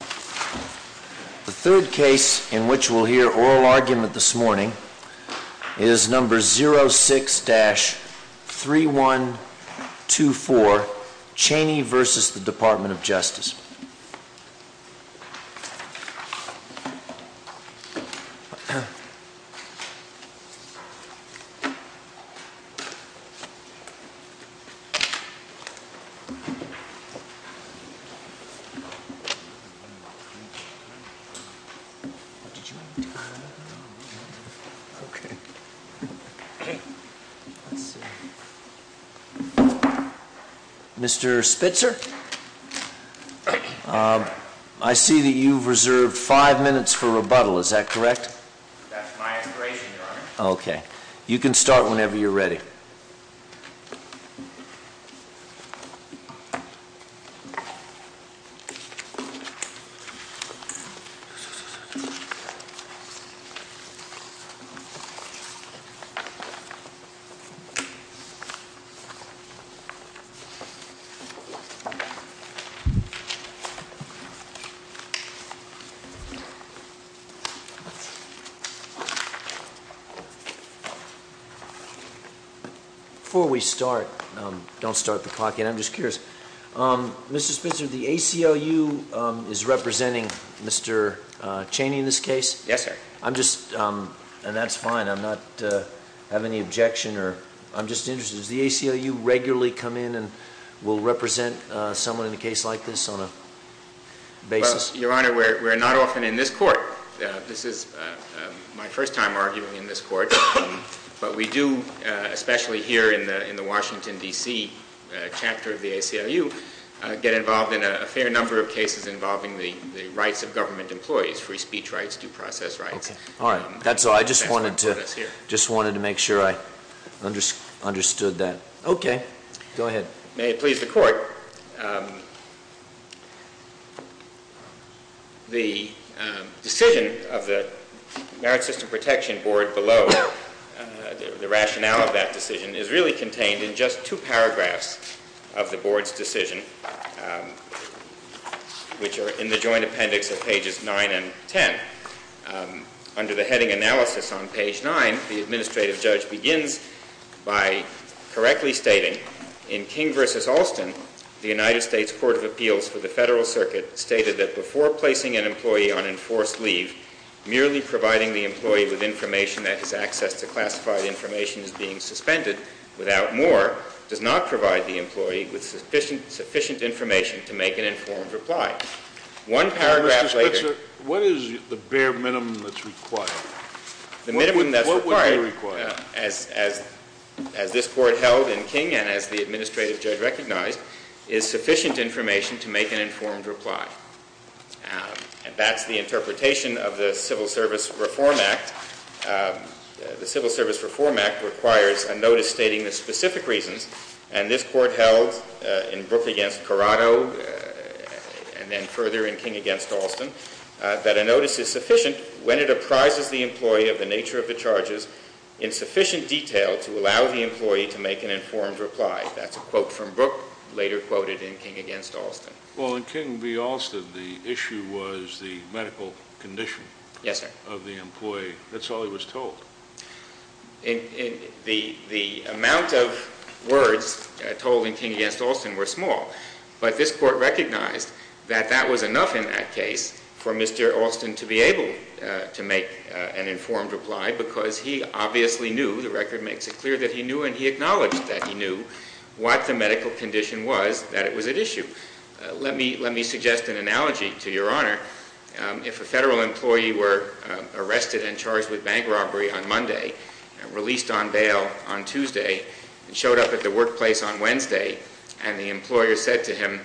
The third case in which we'll hear oral argument this morning is number 06-3124, Cheney v. Department of Justice. Mr. Spitzer, I see that you've reserved five minutes for rebuttal, is that correct? That's my aspiration, Your Honor. Okay. You can start whenever you're ready. Before we start, don't start the clock yet, I'm just curious, Mr. Spitzer, the ACLU is representing Mr. Cheney in this case? Yes, sir. I'm just, and that's fine, I'm not having any objection or, I'm just interested, does the ACLU regularly come in and will represent someone in a case like this on a basis? Your Honor, we're not often in this court. This is my first time arguing in this court. But we do, especially here in the Washington, D.C. chapter of the ACLU, get involved in a fair number of cases involving the rights of government employees, free speech rights, due process rights. Okay. All right. That's all. I just wanted to make sure I understood that. Okay. Go ahead. May it please the Court, the decision of the Merit System Protection Board below, the rationale of that decision, is really contained in just two paragraphs of the Board's decision, which are in the joint appendix of pages 9 and 10. Under the heading analysis on page 9, the administrative judge begins by correctly stating, in King v. Alston, the United States Court of Appeals for the Federal Circuit stated that before placing an employee on enforced leave, merely providing the employee with information that his access to classified information is being suspended, without more, does not provide the employee with sufficient information to make an informed reply. Mr. Spitzer, what is the bare minimum that's required? What would be required? The minimum that's required, as this Court held in King and as the administrative judge recognized, is sufficient information to make an informed reply. And that's the interpretation of the Civil Service Reform Act. The Civil Service Reform Act requires a notice stating the specific reasons, and this Court held in Brooke v. Corrado, and then further in King v. Alston, that a notice is sufficient when it apprises the employee of the nature of the charges in sufficient detail to allow the employee to make an informed reply. That's a quote from Brooke, later quoted in King v. Alston. Well, in King v. Alston, the issue was the medical condition of the employee. Yes, sir. That's all he was told. The amount of words told in King v. Alston were small, but this Court recognized that that was enough in that case for Mr. Alston to be able to make an informed reply, because he obviously knew, the record makes it clear that he knew and he acknowledged that he knew what the medical condition was that it was at issue. Let me suggest an analogy to Your Honor. If a federal employee were arrested and charged with bank robbery on Monday, released on bail on Tuesday, and showed up at the workplace on Wednesday, and the employer said to him,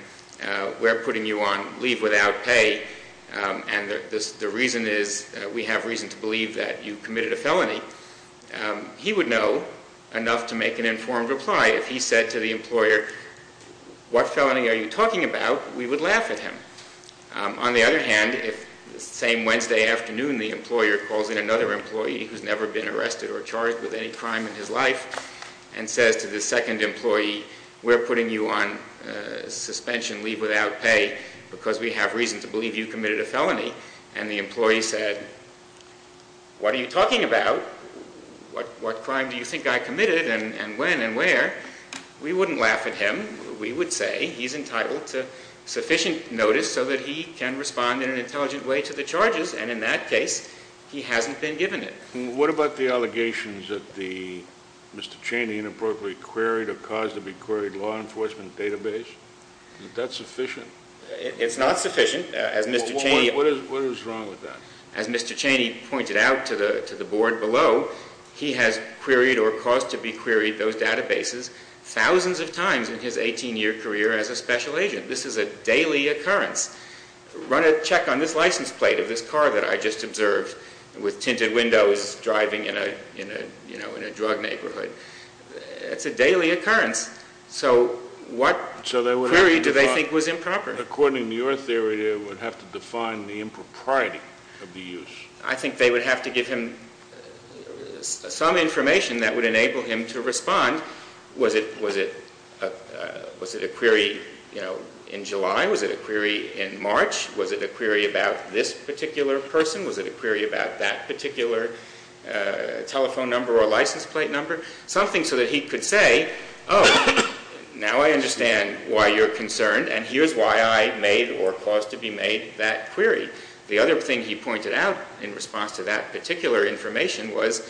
we're putting you on leave without pay, and the reason is we have reason to believe that you committed a felony, he would know enough to make an informed reply. If he said to the employer, what felony are you talking about? We would laugh at him. On the other hand, if the same Wednesday afternoon the employer calls in another employee who's never been arrested or charged with any crime in his life, and says to the second employee, we're putting you on suspension, leave without pay, because we have reason to believe you committed a felony, and the employee said, what are you talking about? What crime do you think I committed, and when and where? We wouldn't laugh at him. We would say he's entitled to sufficient notice so that he can respond in an intelligent way to the charges, and in that case, he hasn't been given it. What about the allegations that Mr. Cheney inappropriately queried or caused to be queried law enforcement database? Is that sufficient? It's not sufficient. What is wrong with that? As Mr. Cheney pointed out to the board below, he has queried or caused to be queried those databases thousands of times in his 18-year career as a special agent. This is a daily occurrence. Run a check on this license plate of this car that I just observed with tinted windows driving in a drug neighborhood. It's a daily occurrence. So what query do they think was improper? According to your theory, they would have to define the impropriety of the use. I think they would have to give him some information that would enable him to respond. Was it a query in July? Was it a query in March? Was it a query about this particular person? Was it a query about that particular telephone number or license plate number? Something so that he could say, oh, now I understand why you're concerned, and here's why I made or caused to be made that query. The other thing he pointed out in response to that particular information was,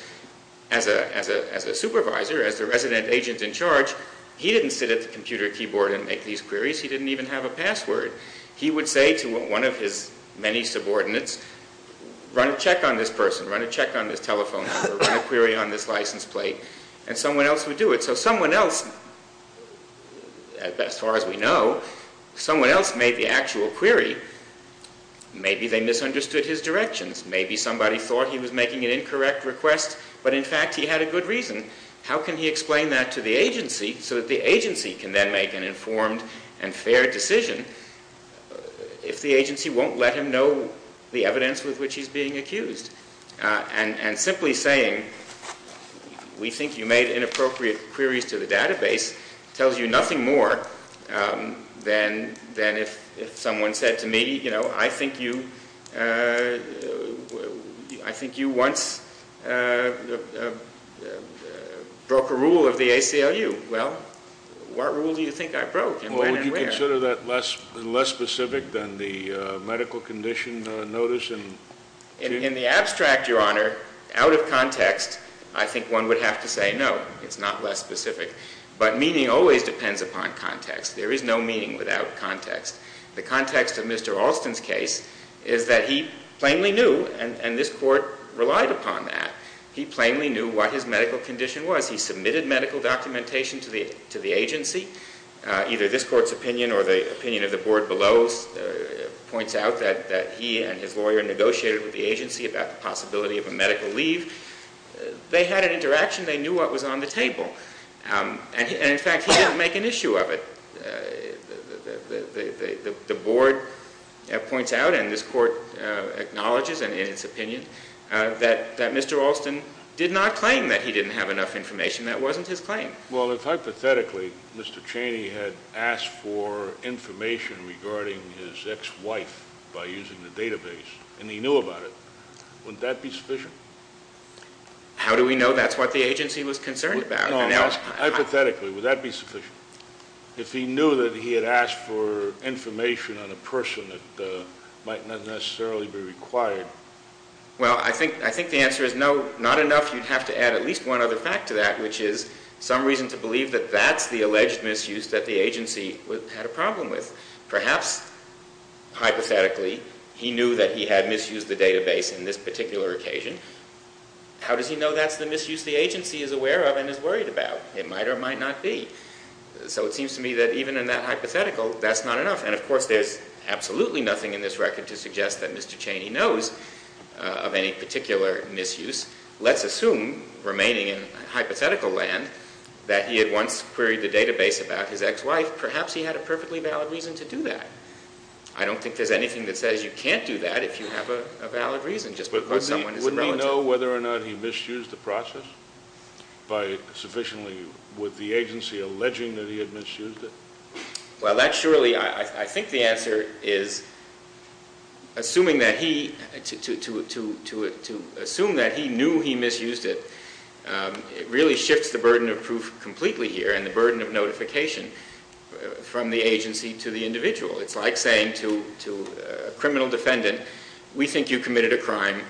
as a supervisor, as the resident agent in charge, he didn't sit at the computer keyboard and make these queries. He didn't even have a password. He would say to one of his many subordinates, run a check on this person, run a check on this telephone number, run a query on this license plate, and someone else would do it. So someone else, as far as we know, someone else made the actual query. Maybe they misunderstood his directions. Maybe somebody thought he was making an incorrect request, but in fact he had a good reason. How can he explain that to the agency so that the agency can then make an informed and fair decision if the agency won't let him know the evidence with which he's being accused? And simply saying, we think you made inappropriate queries to the database, tells you nothing more than if someone said to me, you know, I think you once broke a rule of the ACLU. Well, what rule do you think I broke, and when and where? Would you consider that less specific than the medical condition notice? In the abstract, Your Honor, out of context, I think one would have to say no, it's not less specific. But meaning always depends upon context. There is no meaning without context. The context of Mr. Alston's case is that he plainly knew, and this Court relied upon that, he plainly knew what his medical condition was. He submitted medical documentation to the agency. Either this Court's opinion or the opinion of the board below points out that he and his lawyer negotiated with the agency about the possibility of a medical leave. They had an interaction. They knew what was on the table. And in fact, he didn't make an issue of it. The board points out, and this Court acknowledges in its opinion, that Mr. Alston did not claim that he didn't have enough information. That wasn't his claim. Well, if hypothetically Mr. Cheney had asked for information regarding his ex-wife by using the database, and he knew about it, wouldn't that be sufficient? How do we know that's what the agency was concerned about? No, hypothetically, would that be sufficient? If he knew that he had asked for information on a person that might not necessarily be required? Well, I think the answer is no, not enough. You'd have to add at least one other fact to that, which is some reason to believe that that's the alleged misuse that the agency had a problem with. Perhaps, hypothetically, he knew that he had misused the database in this particular occasion. How does he know that's the misuse the agency is aware of and is worried about? It might or might not be. So it seems to me that even in that hypothetical, that's not enough. And, of course, there's absolutely nothing in this record to suggest that Mr. Cheney knows of any particular misuse. Let's assume, remaining in hypothetical land, that he had once queried the database about his ex-wife. Perhaps he had a perfectly valid reason to do that. I don't think there's anything that says you can't do that if you have a valid reason, just because someone is a relative. But wouldn't he know whether or not he misused the process by sufficiently with the agency alleging that he had misused it? Well, that surely, I think the answer is, assuming that he, to assume that he knew he misused it, it really shifts the burden of proof completely here and the burden of notification from the agency to the individual. It's like saying to a criminal defendant, we think you committed a crime.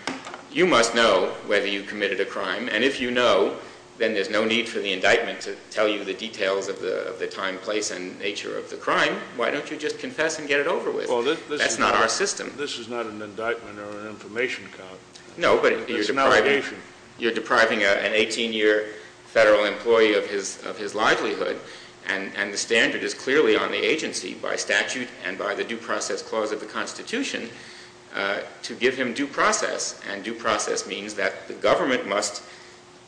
You must know whether you committed a crime. And if you know, then there's no need for the indictment to tell you the details of the time, place, and nature of the crime. Why don't you just confess and get it over with? That's not our system. This is not an indictment or an information cop. No, but you're depriving an 18-year federal employee of his livelihood. And the standard is clearly on the agency, by statute and by the due process clause of the Constitution, to give him due process. And due process means that the government must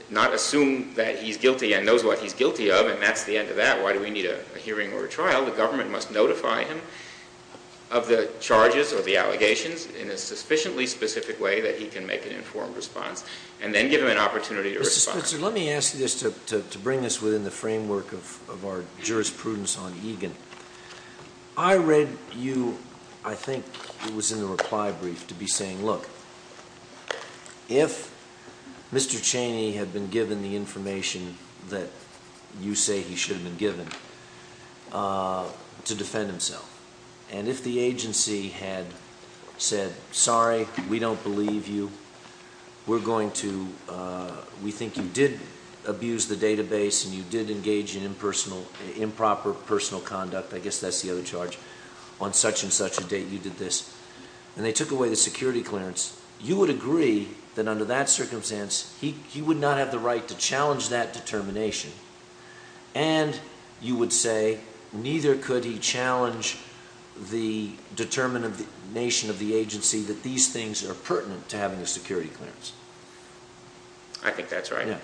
not assume that he's guilty and knows what he's guilty of, and that's the end of that. Why do we need a hearing or a trial? The government must notify him of the charges or the allegations in a sufficiently specific way that he can make an informed response and then give him an opportunity to respond. Mr. Spitzer, let me ask you this to bring us within the framework of our jurisprudence on Egan. I read you, I think it was in the reply brief, to be saying, look, if Mr. Cheney had been given the information that you say he should have been given to defend himself, and if the agency had said, sorry, we don't believe you, we think you did abuse the database and you did engage in improper personal conduct, I guess that's the other charge, on such and such a date you did this, and they took away the security clearance, you would agree that under that circumstance he would not have the right to challenge that determination. And you would say neither could he challenge the determination of the agency that these things are pertinent to having a security clearance. I think that's right.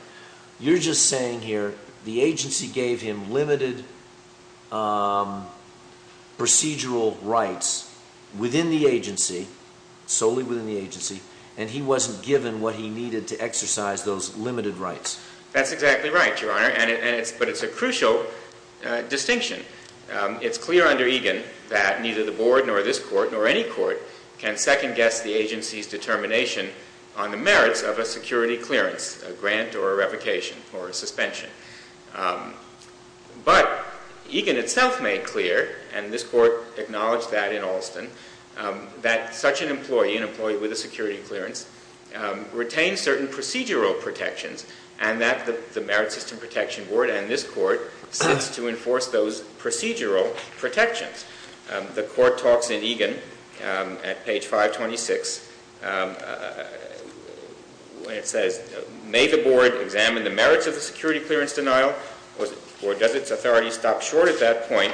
You're just saying here the agency gave him limited procedural rights within the agency, solely within the agency, and he wasn't given what he needed to exercise those limited rights. That's exactly right, Your Honor, but it's a crucial distinction. It's clear under Egan that neither the board nor this court nor any court can second-guess the agency's determination on the merits of a security clearance, a grant or a revocation or a suspension. But Egan itself made clear, and this court acknowledged that in Alston, that such an employee, an employee with a security clearance, retains certain procedural protections, and that the Merit System Protection Board and this court sits to enforce those procedural protections. The court talks in Egan at page 526 when it says, May the board examine the merits of the security clearance denial, or does its authority stop short at that point,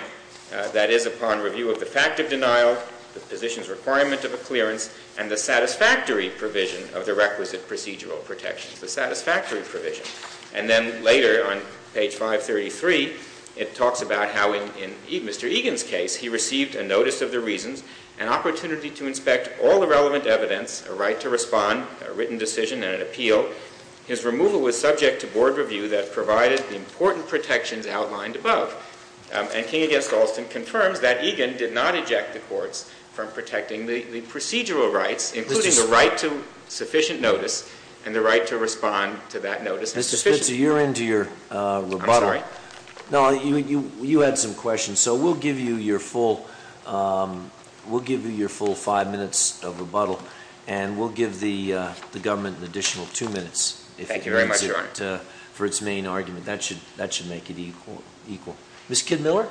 that is, upon review of the fact of denial, the position's requirement of a clearance, and the satisfactory provision of the requisite procedural protections, the satisfactory provision. And then later on page 533, it talks about how in Mr. Egan's case, he received a notice of the reasons, an opportunity to inspect all the relevant evidence, a right to respond, a written decision and an appeal. His removal was subject to board review that provided the important protections outlined above. And King v. Alston confirms that Egan did not eject the courts from protecting the procedural rights, including the right to sufficient notice and the right to respond to that notice as sufficient. Mr. Spitzer, you're into your rebuttal. I'm sorry? No, you had some questions. So we'll give you your full five minutes of rebuttal, and we'll give the government an additional two minutes. Thank you very much, Your Honor. That should make it equal. Ms. Kidd-Miller?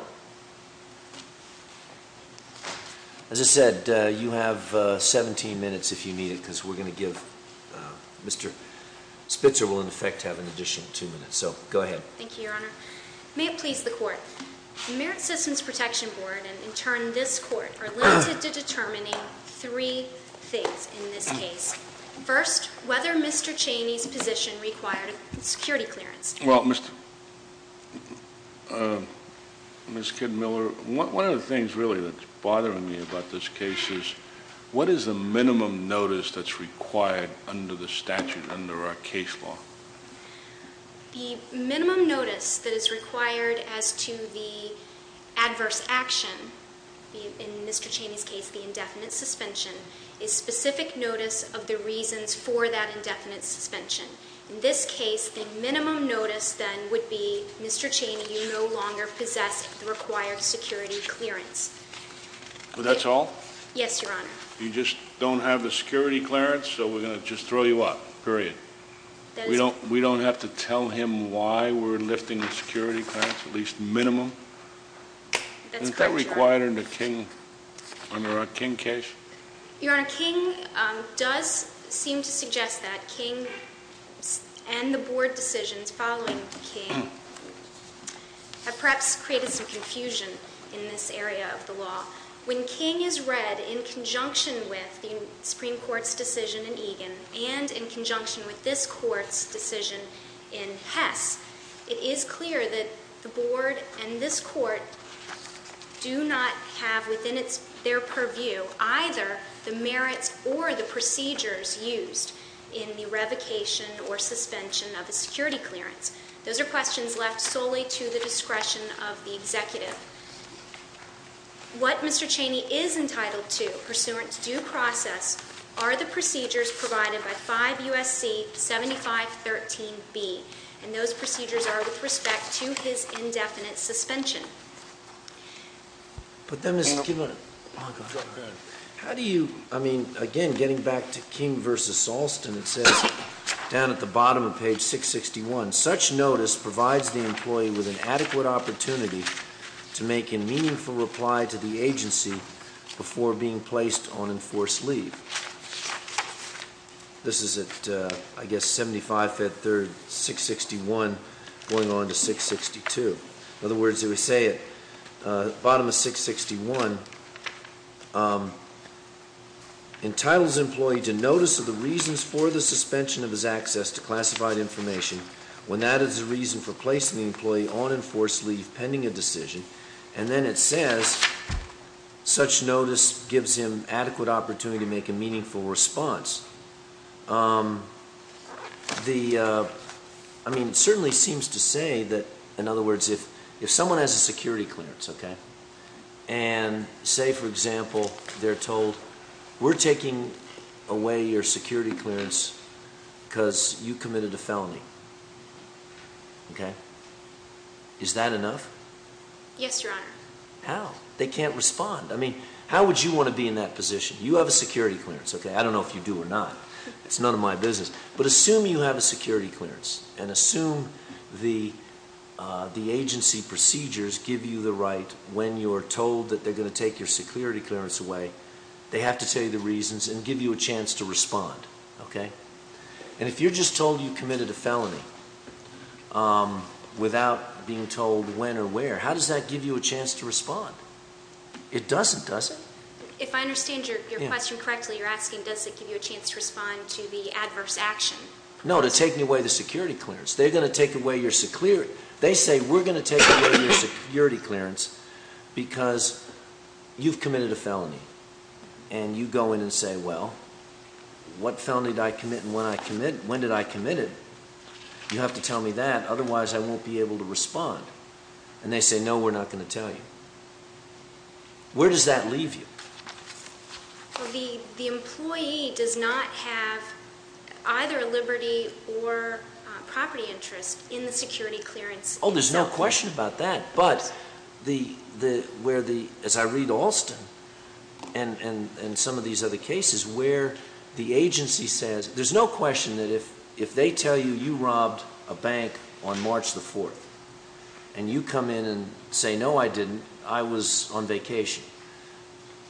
As I said, you have 17 minutes if you need it, because we're going to give Mr. Spitzer will, in effect, have an additional two minutes. So go ahead. Thank you, Your Honor. May it please the Court, the Merit Systems Protection Board and, in turn, this Court are limited to determining three things in this case. First, whether Mr. Cheney's position required a security clearance. Well, Ms. Kidd-Miller, one of the things, really, that's bothering me about this case is what is the minimum notice that's required under the statute, under our case law? The minimum notice that is required as to the adverse action, in Mr. Cheney's case, the indefinite suspension, is specific notice of the reasons for that indefinite suspension. In this case, the minimum notice, then, would be Mr. Cheney, you no longer possess the required security clearance. That's all? Yes, Your Honor. You just don't have the security clearance, so we're going to just throw you up. Period. We don't have to tell him why we're lifting the security clearance, at least minimum? That's correct, Your Honor. Isn't that required under King case? Your Honor, King does seem to suggest that King and the Board decisions following King have perhaps created some confusion in this area of the law. When King is read in conjunction with the Supreme Court's decision in Egan, and in conjunction with this Court's decision in Hess, it is clear that the Board and this Court do not have within their purview either the merits or the procedures used in the revocation or suspension of a security clearance. Those are questions left solely to the discretion of the executive. What Mr. Cheney is entitled to, pursuant to due process, are the procedures provided by 5 U.S.C. 7513B, and those procedures are with respect to his indefinite suspension. But then, Ms. Kivlin, how do you, I mean, again, getting back to King v. Salston, it says down at the bottom of page 661, that such notice provides the employee with an adequate opportunity to make a meaningful reply to the agency before being placed on enforced leave. This is at, I guess, 75-3-661 going on to 662. In other words, it would say at the bottom of 661, entitles employee to notice of the reasons for the suspension of his access to classified information, when that is the reason for placing the employee on enforced leave pending a decision. And then it says, such notice gives him adequate opportunity to make a meaningful response. The, I mean, it certainly seems to say that, in other words, if someone has a security clearance, okay, and say, for example, they're told, we're taking away your security clearance because you committed a felony. Okay? Is that enough? Yes, Your Honor. How? They can't respond. I mean, how would you want to be in that position? You have a security clearance, okay? I don't know if you do or not. It's none of my business. But assume you have a security clearance, and assume the agency procedures give you the right, when you're told that they're going to take your security clearance away, they have to tell you the reasons and give you a chance to respond. Okay? And if you're just told you committed a felony, without being told when or where, how does that give you a chance to respond? It doesn't, does it? If I understand your question correctly, you're asking, does it give you a chance to respond to the adverse action? No, to take away the security clearance. They're going to take away your security, they say, we're going to take away your security clearance because you've committed a felony. And you go in and say, well, what felony did I commit and when did I commit it? You have to tell me that, otherwise I won't be able to respond. And they say, no, we're not going to tell you. Where does that leave you? Well, the employee does not have either a liberty or property interest in the security clearance itself. Oh, there's no question about that. But where the, as I read Alston and some of these other cases, where the agency says, there's no question that if they tell you, you robbed a bank on March the 4th, and you come in and say, no, I didn't, I was on vacation,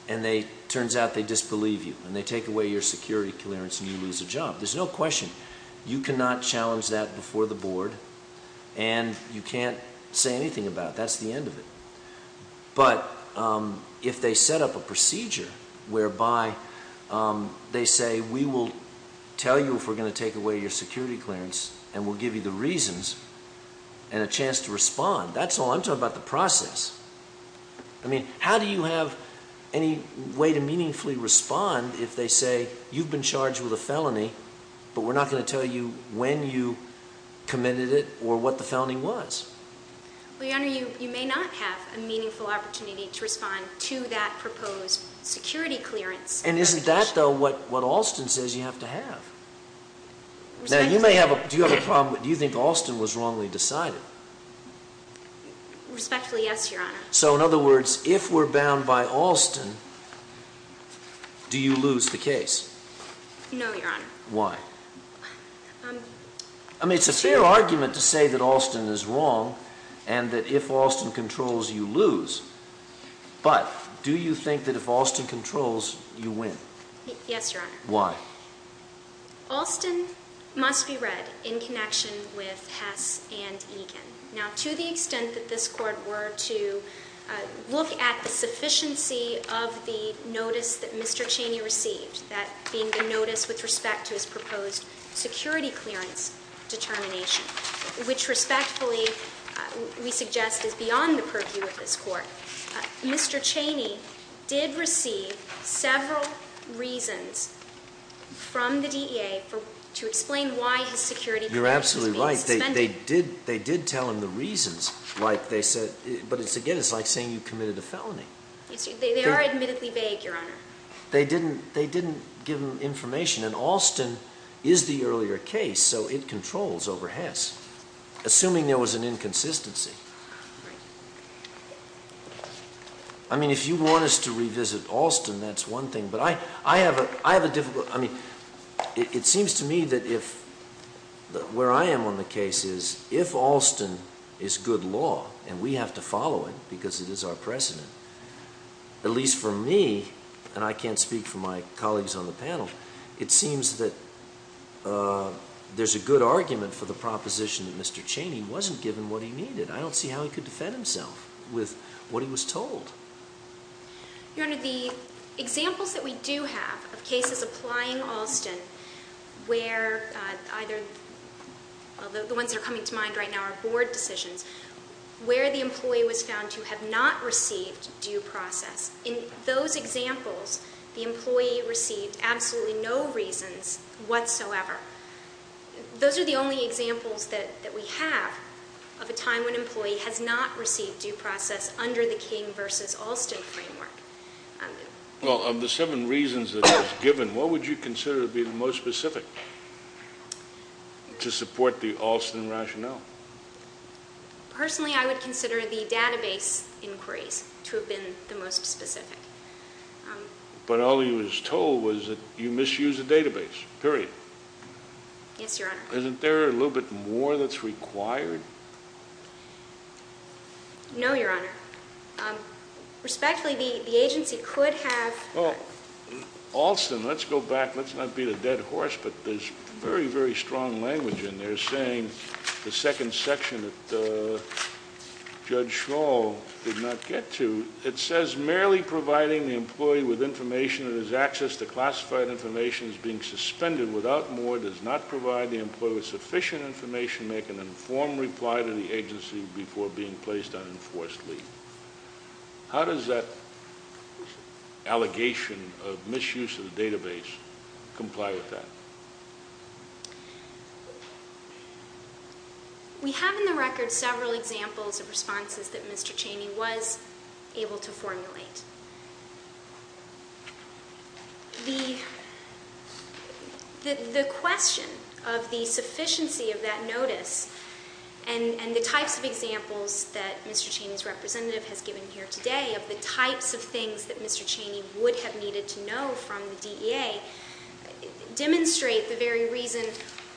and it turns out they disbelieve you, and they take away your security clearance and you lose a job. There's no question. You cannot challenge that before the board and you can't say anything about it. That's the end of it. But if they set up a procedure whereby they say, we will tell you if we're going to take away your security clearance and we'll give you the reasons and a chance to respond, that's all. I'm talking about the process. I mean, how do you have any way to meaningfully respond if they say, you've been charged with a felony, but we're not going to tell you when you committed it or what the felony was? Well, Your Honor, you may not have a meaningful opportunity to respond to that proposed security clearance. And isn't that, though, what Alston says you have to have? Do you think Alston was wrongly decided? Respectfully, yes, Your Honor. So in other words, if we're bound by Alston, do you lose the case? No, Your Honor. Why? I mean, it's a fair argument to say that Alston is wrong and that if Alston controls, you lose. But do you think that if Alston controls, you win? Yes, Your Honor. Why? Alston must be read in connection with Hess and Egan. Now, to the extent that this Court were to look at the sufficiency of the notice that Mr. Cheney received, that being the notice with respect to his proposed security clearance determination, which respectfully we suggest is beyond the purview of this Court, Mr. Cheney did receive several reasons from the DEA to explain why his security clearance was being suspended. You're absolutely right. They did tell him the reasons. But again, it's like saying you committed a felony. They are admittedly vague, Your Honor. They didn't give him information. And Alston is the earlier case, so it controls over Hess, assuming there was an inconsistency. I mean, if you want us to revisit Alston, that's one thing. But I have a difficult, I mean, it seems to me that if, where I am on the case is, if Alston is good law and we have to follow it because it is our precedent, at least for me, and I can't speak for my colleagues on the panel, it seems that there's a good argument for the proposition that Mr. Cheney wasn't given what he needed. I don't see how he could defend himself with what he was told. Your Honor, the examples that we do have of cases applying Alston where either, although the ones that are coming to mind right now are board decisions, where the employee was found to have not received due process, in those examples the employee received absolutely no reasons whatsoever. Those are the only examples that we have of a time when an employee has not received due process under the King v. Alston framework. Well, of the seven reasons that it was given, what would you consider to be the most specific to support the Alston rationale? Personally, I would consider the database inquiries to have been the most specific. But all he was told was that you misused the database, period. Yes, Your Honor. Isn't there a little bit more that's required? No, Your Honor. Respectfully, the agency could have... Alston, let's go back, let's not beat a dead horse, but there's very, very strong language in there saying the second section that Judge Schall did not get to, it says merely providing the employee with information that has access to classified information is being suspended. Without more, does not provide the employee with sufficient information, make an informed reply to the agency before being placed on enforced leave. How does that allegation of misuse of the database comply with that? We have in the record several examples of responses that Mr. Cheney was able to formulate. The question of the sufficiency of that notice, and the types of examples that Mr. Cheney's representative has given here today of the types of things that Mr. Cheney would have needed to know from the DEA, demonstrate the very reason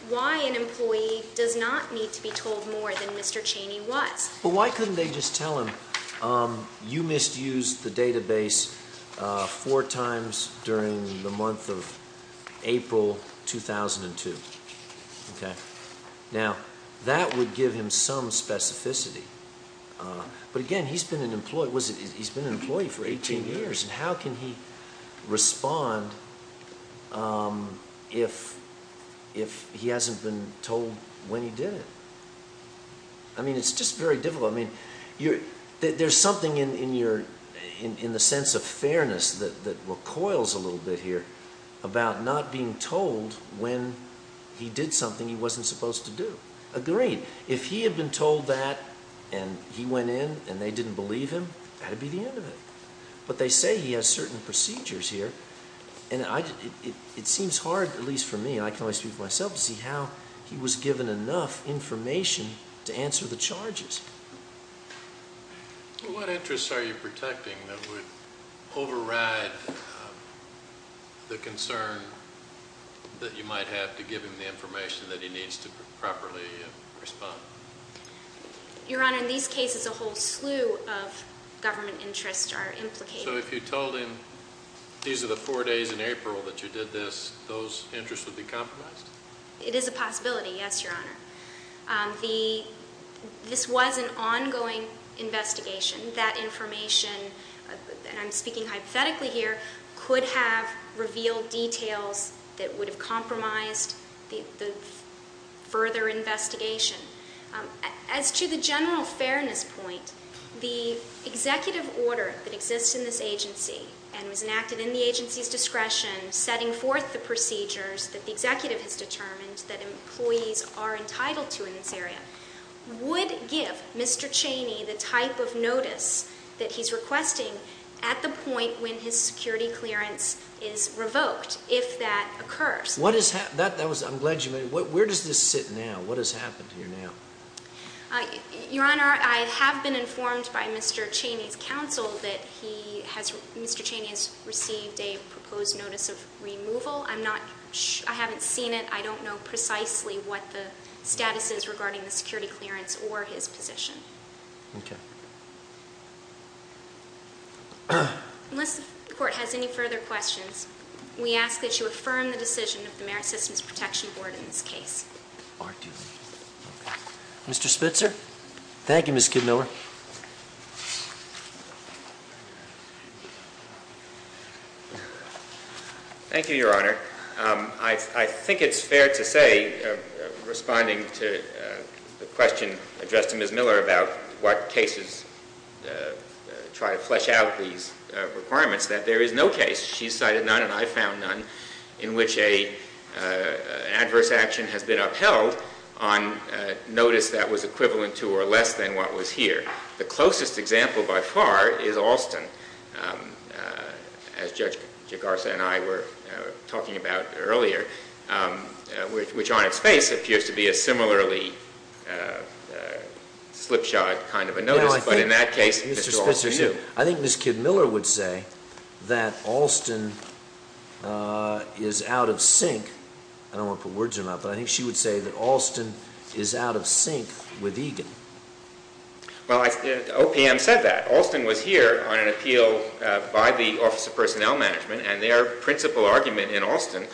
why an employee does not need to be told more than Mr. Cheney was. But why couldn't they just tell him, you misused the database four times during the month of April 2002? Okay. Now, that would give him some specificity. But again, he's been an employee for 18 years. How can he respond if he hasn't been told when he did it? I mean, it's just very difficult. There's something in the sense of fairness that recoils a little bit here about not being told when he did something he wasn't supposed to do. Agreed. If he had been told that and he went in and they didn't believe him, that would be the end of it. But they say he has certain procedures here, and it seems hard, at least for me, and I can only speak for myself, to see how he was given enough information to answer the charges. What interests are you protecting that would override the concern that you might have to give him the information that he needs to properly respond? Your Honor, in these cases a whole slew of government interests are implicated. So if you told him these are the four days in April that you did this, those interests would be compromised? It is a possibility, yes, Your Honor. This was an ongoing investigation. That information, and I'm speaking hypothetically here, could have revealed details that would have compromised the further investigation. As to the general fairness point, the executive order that exists in this agency and was enacted in the agency's discretion setting forth the procedures that the executive has determined that employees are entitled to in this area would give Mr. Cheney the type of notice that he's requesting at the point when his security clearance is revoked, if that occurs. Where does this sit now? What has happened here now? Your Honor, I have been informed by Mr. Cheney's counsel that Mr. Cheney has received a proposed notice of removal. I haven't seen it. I don't know precisely what the status is regarding the security clearance or his position. Unless the court has any further questions, we ask that you affirm the decision of the Merit Systems Protection Board in this case. Mr. Spitzer? Thank you, Ms. Kidmiller. Thank you, Your Honor. I think it's fair to say, responding to the question addressed to Ms. Miller about what cases try to flesh out these requirements, that there is no case. She's cited none and I've found none in which an adverse action has been upheld on notice that was equivalent to or less than what was here. The closest example by far is Alston, as Judge Garza and I were talking about earlier, which on its face appears to be a similarly slipshod kind of a notice. But in that case, Mr. Alston knew. I think Ms. Kidmiller would say that Alston is out of sync. I don't want to put words in her mouth, but I think she would say that Alston is out of sync with Egan. Well, OPM said that. Alston was here on an appeal by the Office of Personnel Management and their principal argument in Alston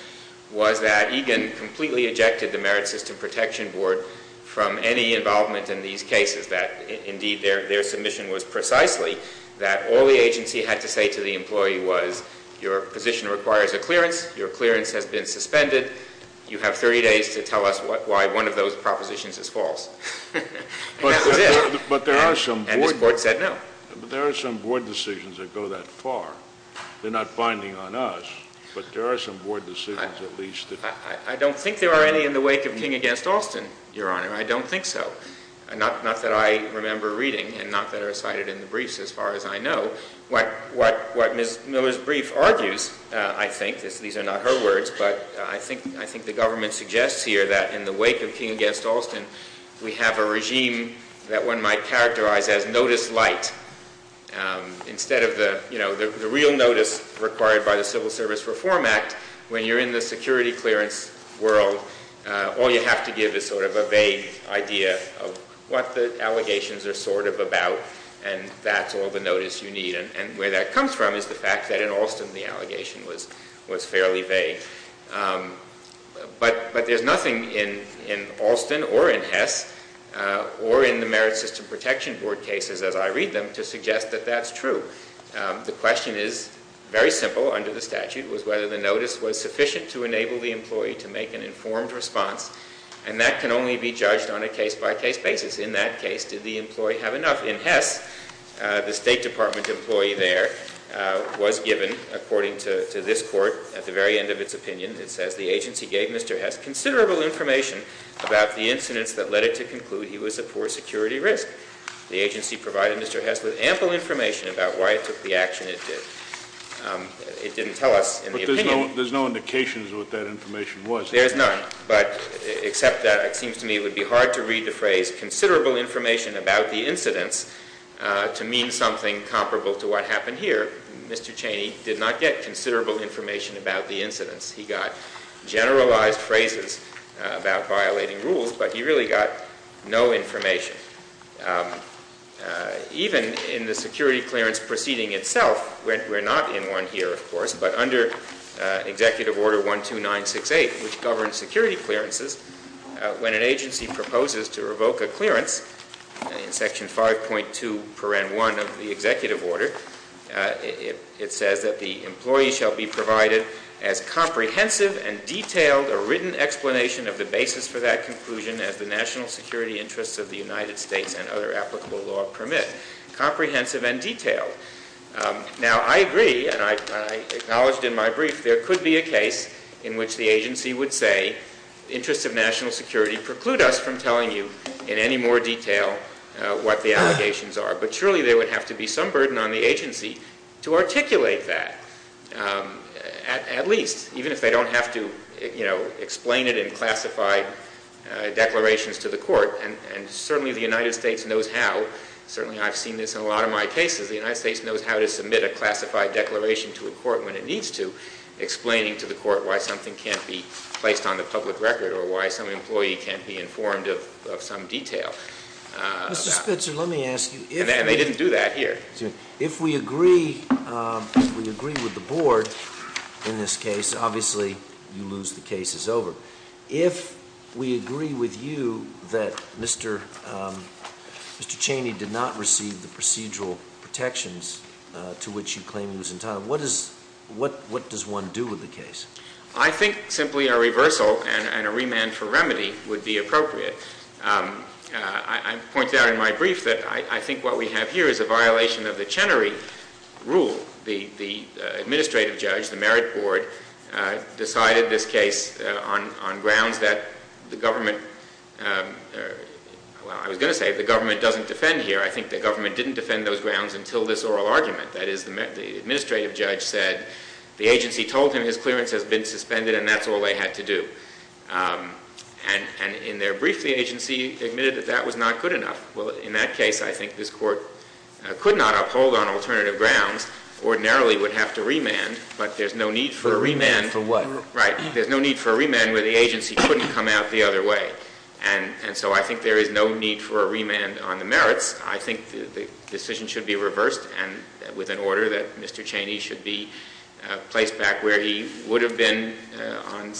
was that Egan completely ejected the Merit System Protection Board from any involvement in these cases, that indeed their submission was precisely that all the agency had to say to the employee was your position requires a clearance, your clearance has been suspended, you have 30 days to tell us why one of those propositions is false. But there are some board decisions that go that far. They're not binding on us, but there are some board decisions at least. I don't think there are any in the wake of King v. Alston, Your Honor. I don't think so. Not that I remember reading, and not that I recited in the briefs as far as I know. What Ms. Miller's brief argues, I think, these are not her words, but I think the government suggests here that in the wake of King v. Alston, we have a regime that one might characterize as notice light. Instead of the real notice required by the Civil Service Reform Act, when you're in the security clearance world, all you have to give is sort of a vague idea of what the allegations are sort of about, and that's all the notice you need. And where that comes from is the fact that in Alston the allegation was fairly vague. But there's nothing in Alston or in Hess or in the Merit System Protection Board cases as I read them to suggest that that's true. The question is very simple under the statute, was whether the notice was sufficient to enable the employee to make an informed response, and that can only be judged on a case-by-case basis. In that case, did the employee have enough? In Hess, the State Department employee there was given, according to this court, at the very end of its opinion, it says, the agency gave Mr. Hess considerable information about the incidents that led it to conclude he was a poor security risk. The agency provided Mr. Hess with ample information about why it took the action it did. It didn't tell us in the opinion. But there's no indications of what that information was. There's none, but except that it seems to me it would be hard to read the phrase considerable information about the incidents to mean something comparable to what happened here. Mr. Cheney did not get considerable information about the incidents. He got generalized phrases about violating rules, but he really got no information. Even in the security clearance proceeding itself, we're not in one here, of course, but under Executive Order 12968, which governs security clearances, when an agency proposes to revoke a clearance, in Section 5.2 paren 1 of the Executive Order, it says that the employee shall be provided as comprehensive and detailed a written explanation of the basis for that conclusion as the national security interests of the United States and other applicable law permit. Comprehensive and detailed. Now, I agree, and I acknowledged in my brief there could be a case in which the agency would say the interests of national security preclude us from telling you in any more detail what the allegations are. But surely there would have to be some burden on the agency to articulate that, at least, even if they don't have to explain it in classified declarations to the court. And certainly the United States knows how. Certainly I've seen this in a lot of my cases. The United States knows how to submit a classified declaration to a court when it needs to, explaining to the court why something can't be placed on the public record or why some employee can't be informed of some detail. Mr. Spitzer, let me ask you. And they didn't do that here. Excuse me. If we agree with the board in this case, obviously you lose the case. It's over. If we agree with you that Mr. Cheney did not receive the procedural protections to which you claim he was entitled, what does one do with the case? I think simply a reversal and a remand for remedy would be appropriate. I point out in my brief that I think what we have here is a violation of the Chenery rule. The administrative judge, the merit board, decided this case on grounds that the government... Well, I was going to say the government doesn't defend here. I think the government didn't defend those grounds until this oral argument. That is, the administrative judge said the agency told him his clearance has been suspended and that's all they had to do. And in their brief, the agency admitted that that was not good enough. Well, in that case, I think this court could not uphold on alternative grounds, ordinarily would have to remand, but there's no need for a remand... For what? Right, there's no need for a remand where the agency couldn't come out the other way. And so I think there is no need for a remand on the merits. I think the decision should be reversed and with an order that Mr. Cheney should be placed back where he would have been on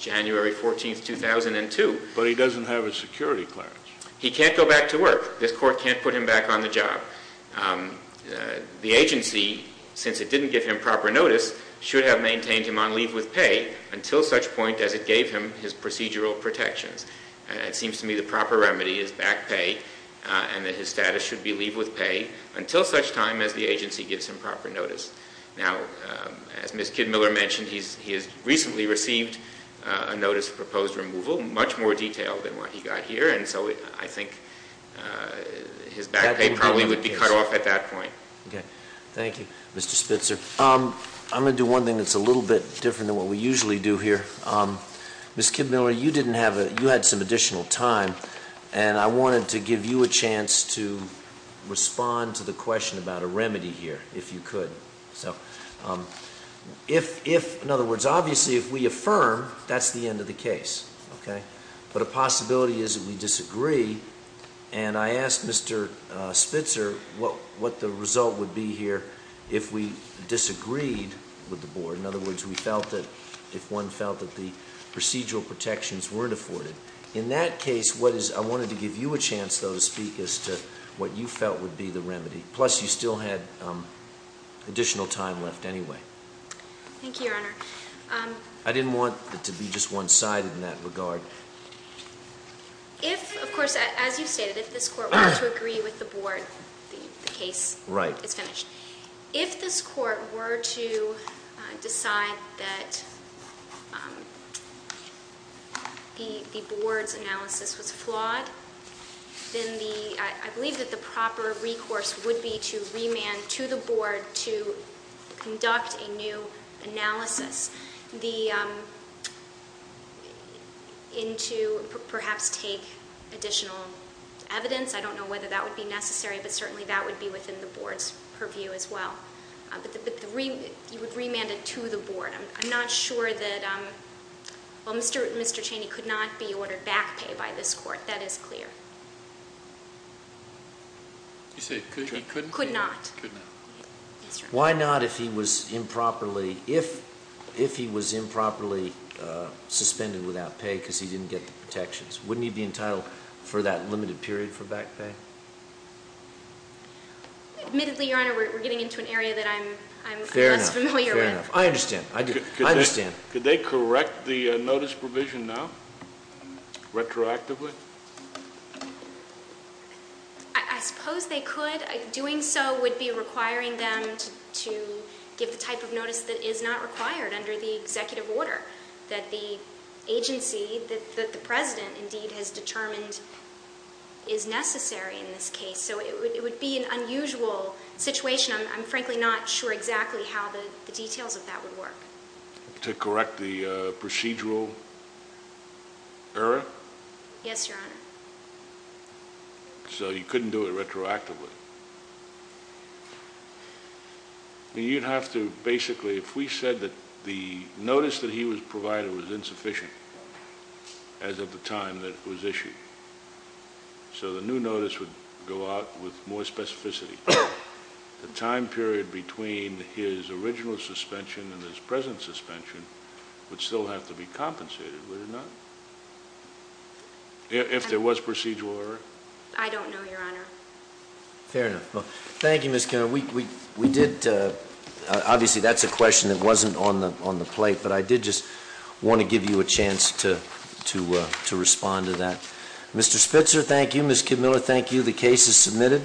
January 14, 2002. But he doesn't have his security clearance. He can't go back to work. This court can't put him back on the job. The agency, since it didn't give him proper notice, should have maintained him on leave with pay until such point as it gave him his procedural protections. It seems to me the proper remedy is back pay and that his status should be leave with pay until such time as the agency gives him proper notice. Now, as Ms. Kidmiller mentioned, he has recently received a notice of proposed removal, much more detailed than what he got here, and so I think his back pay probably would be cut off at that point. Thank you, Mr. Spitzer. I'm going to do one thing that's a little bit different than what we usually do here. Ms. Kidmiller, you had some additional time and I wanted to give you a chance to respond to the question about a remedy here, if you could. In other words, obviously if we affirm, that's the end of the case. But a possibility is that we disagree, and I asked Mr. Spitzer what the result would be here if we disagreed with the board. In other words, if one felt that the procedural protections weren't afforded. In that case, I wanted to give you a chance, though, to speak as to what you felt would be the remedy. Plus, you still had additional time left anyway. Thank you, Your Honor. I didn't want it to be just one-sided in that regard. If, of course, as you stated, if this court were to agree with the board, the case is finished. If this court were to decide that the board's analysis was flawed, then I believe that the proper recourse would be to remand to the board to conduct a new analysis, and to perhaps take additional evidence. I don't know whether that would be necessary, but certainly that would be within the board's purview as well. But you would remand it to the board. I'm not sure that, well, Mr. Cheney could not be ordered back pay by this court. That is clear. You say he couldn't? He could not. Why not if he was improperly suspended without pay because he didn't get the protections? Wouldn't he be entitled for that limited period for back pay? Admittedly, Your Honor, we're getting into an area that I'm less familiar with. Fair enough. I understand. I understand. Could they correct the notice provision now retroactively? I suppose they could. Doing so would be requiring them to give the type of notice that is not required under the executive order, that the agency that the President indeed has determined is necessary in this case. So it would be an unusual situation. I'm frankly not sure exactly how the details of that would work. To correct the procedural error? Yes, Your Honor. So you couldn't do it retroactively. You'd have to basically, if we said that the notice that he was provided was insufficient, as of the time that it was issued, so the new notice would go out with more specificity. The time period between his original suspension and his present suspension would still have to be compensated. Would it not? If there was procedural error? I don't know, Your Honor. Fair enough. Thank you, Ms. Kenner. Obviously, that's a question that wasn't on the plate, but I did just want to give you a chance to respond to that. Mr. Spitzer, thank you. Ms. Kidmiller, thank you. The case is submitted.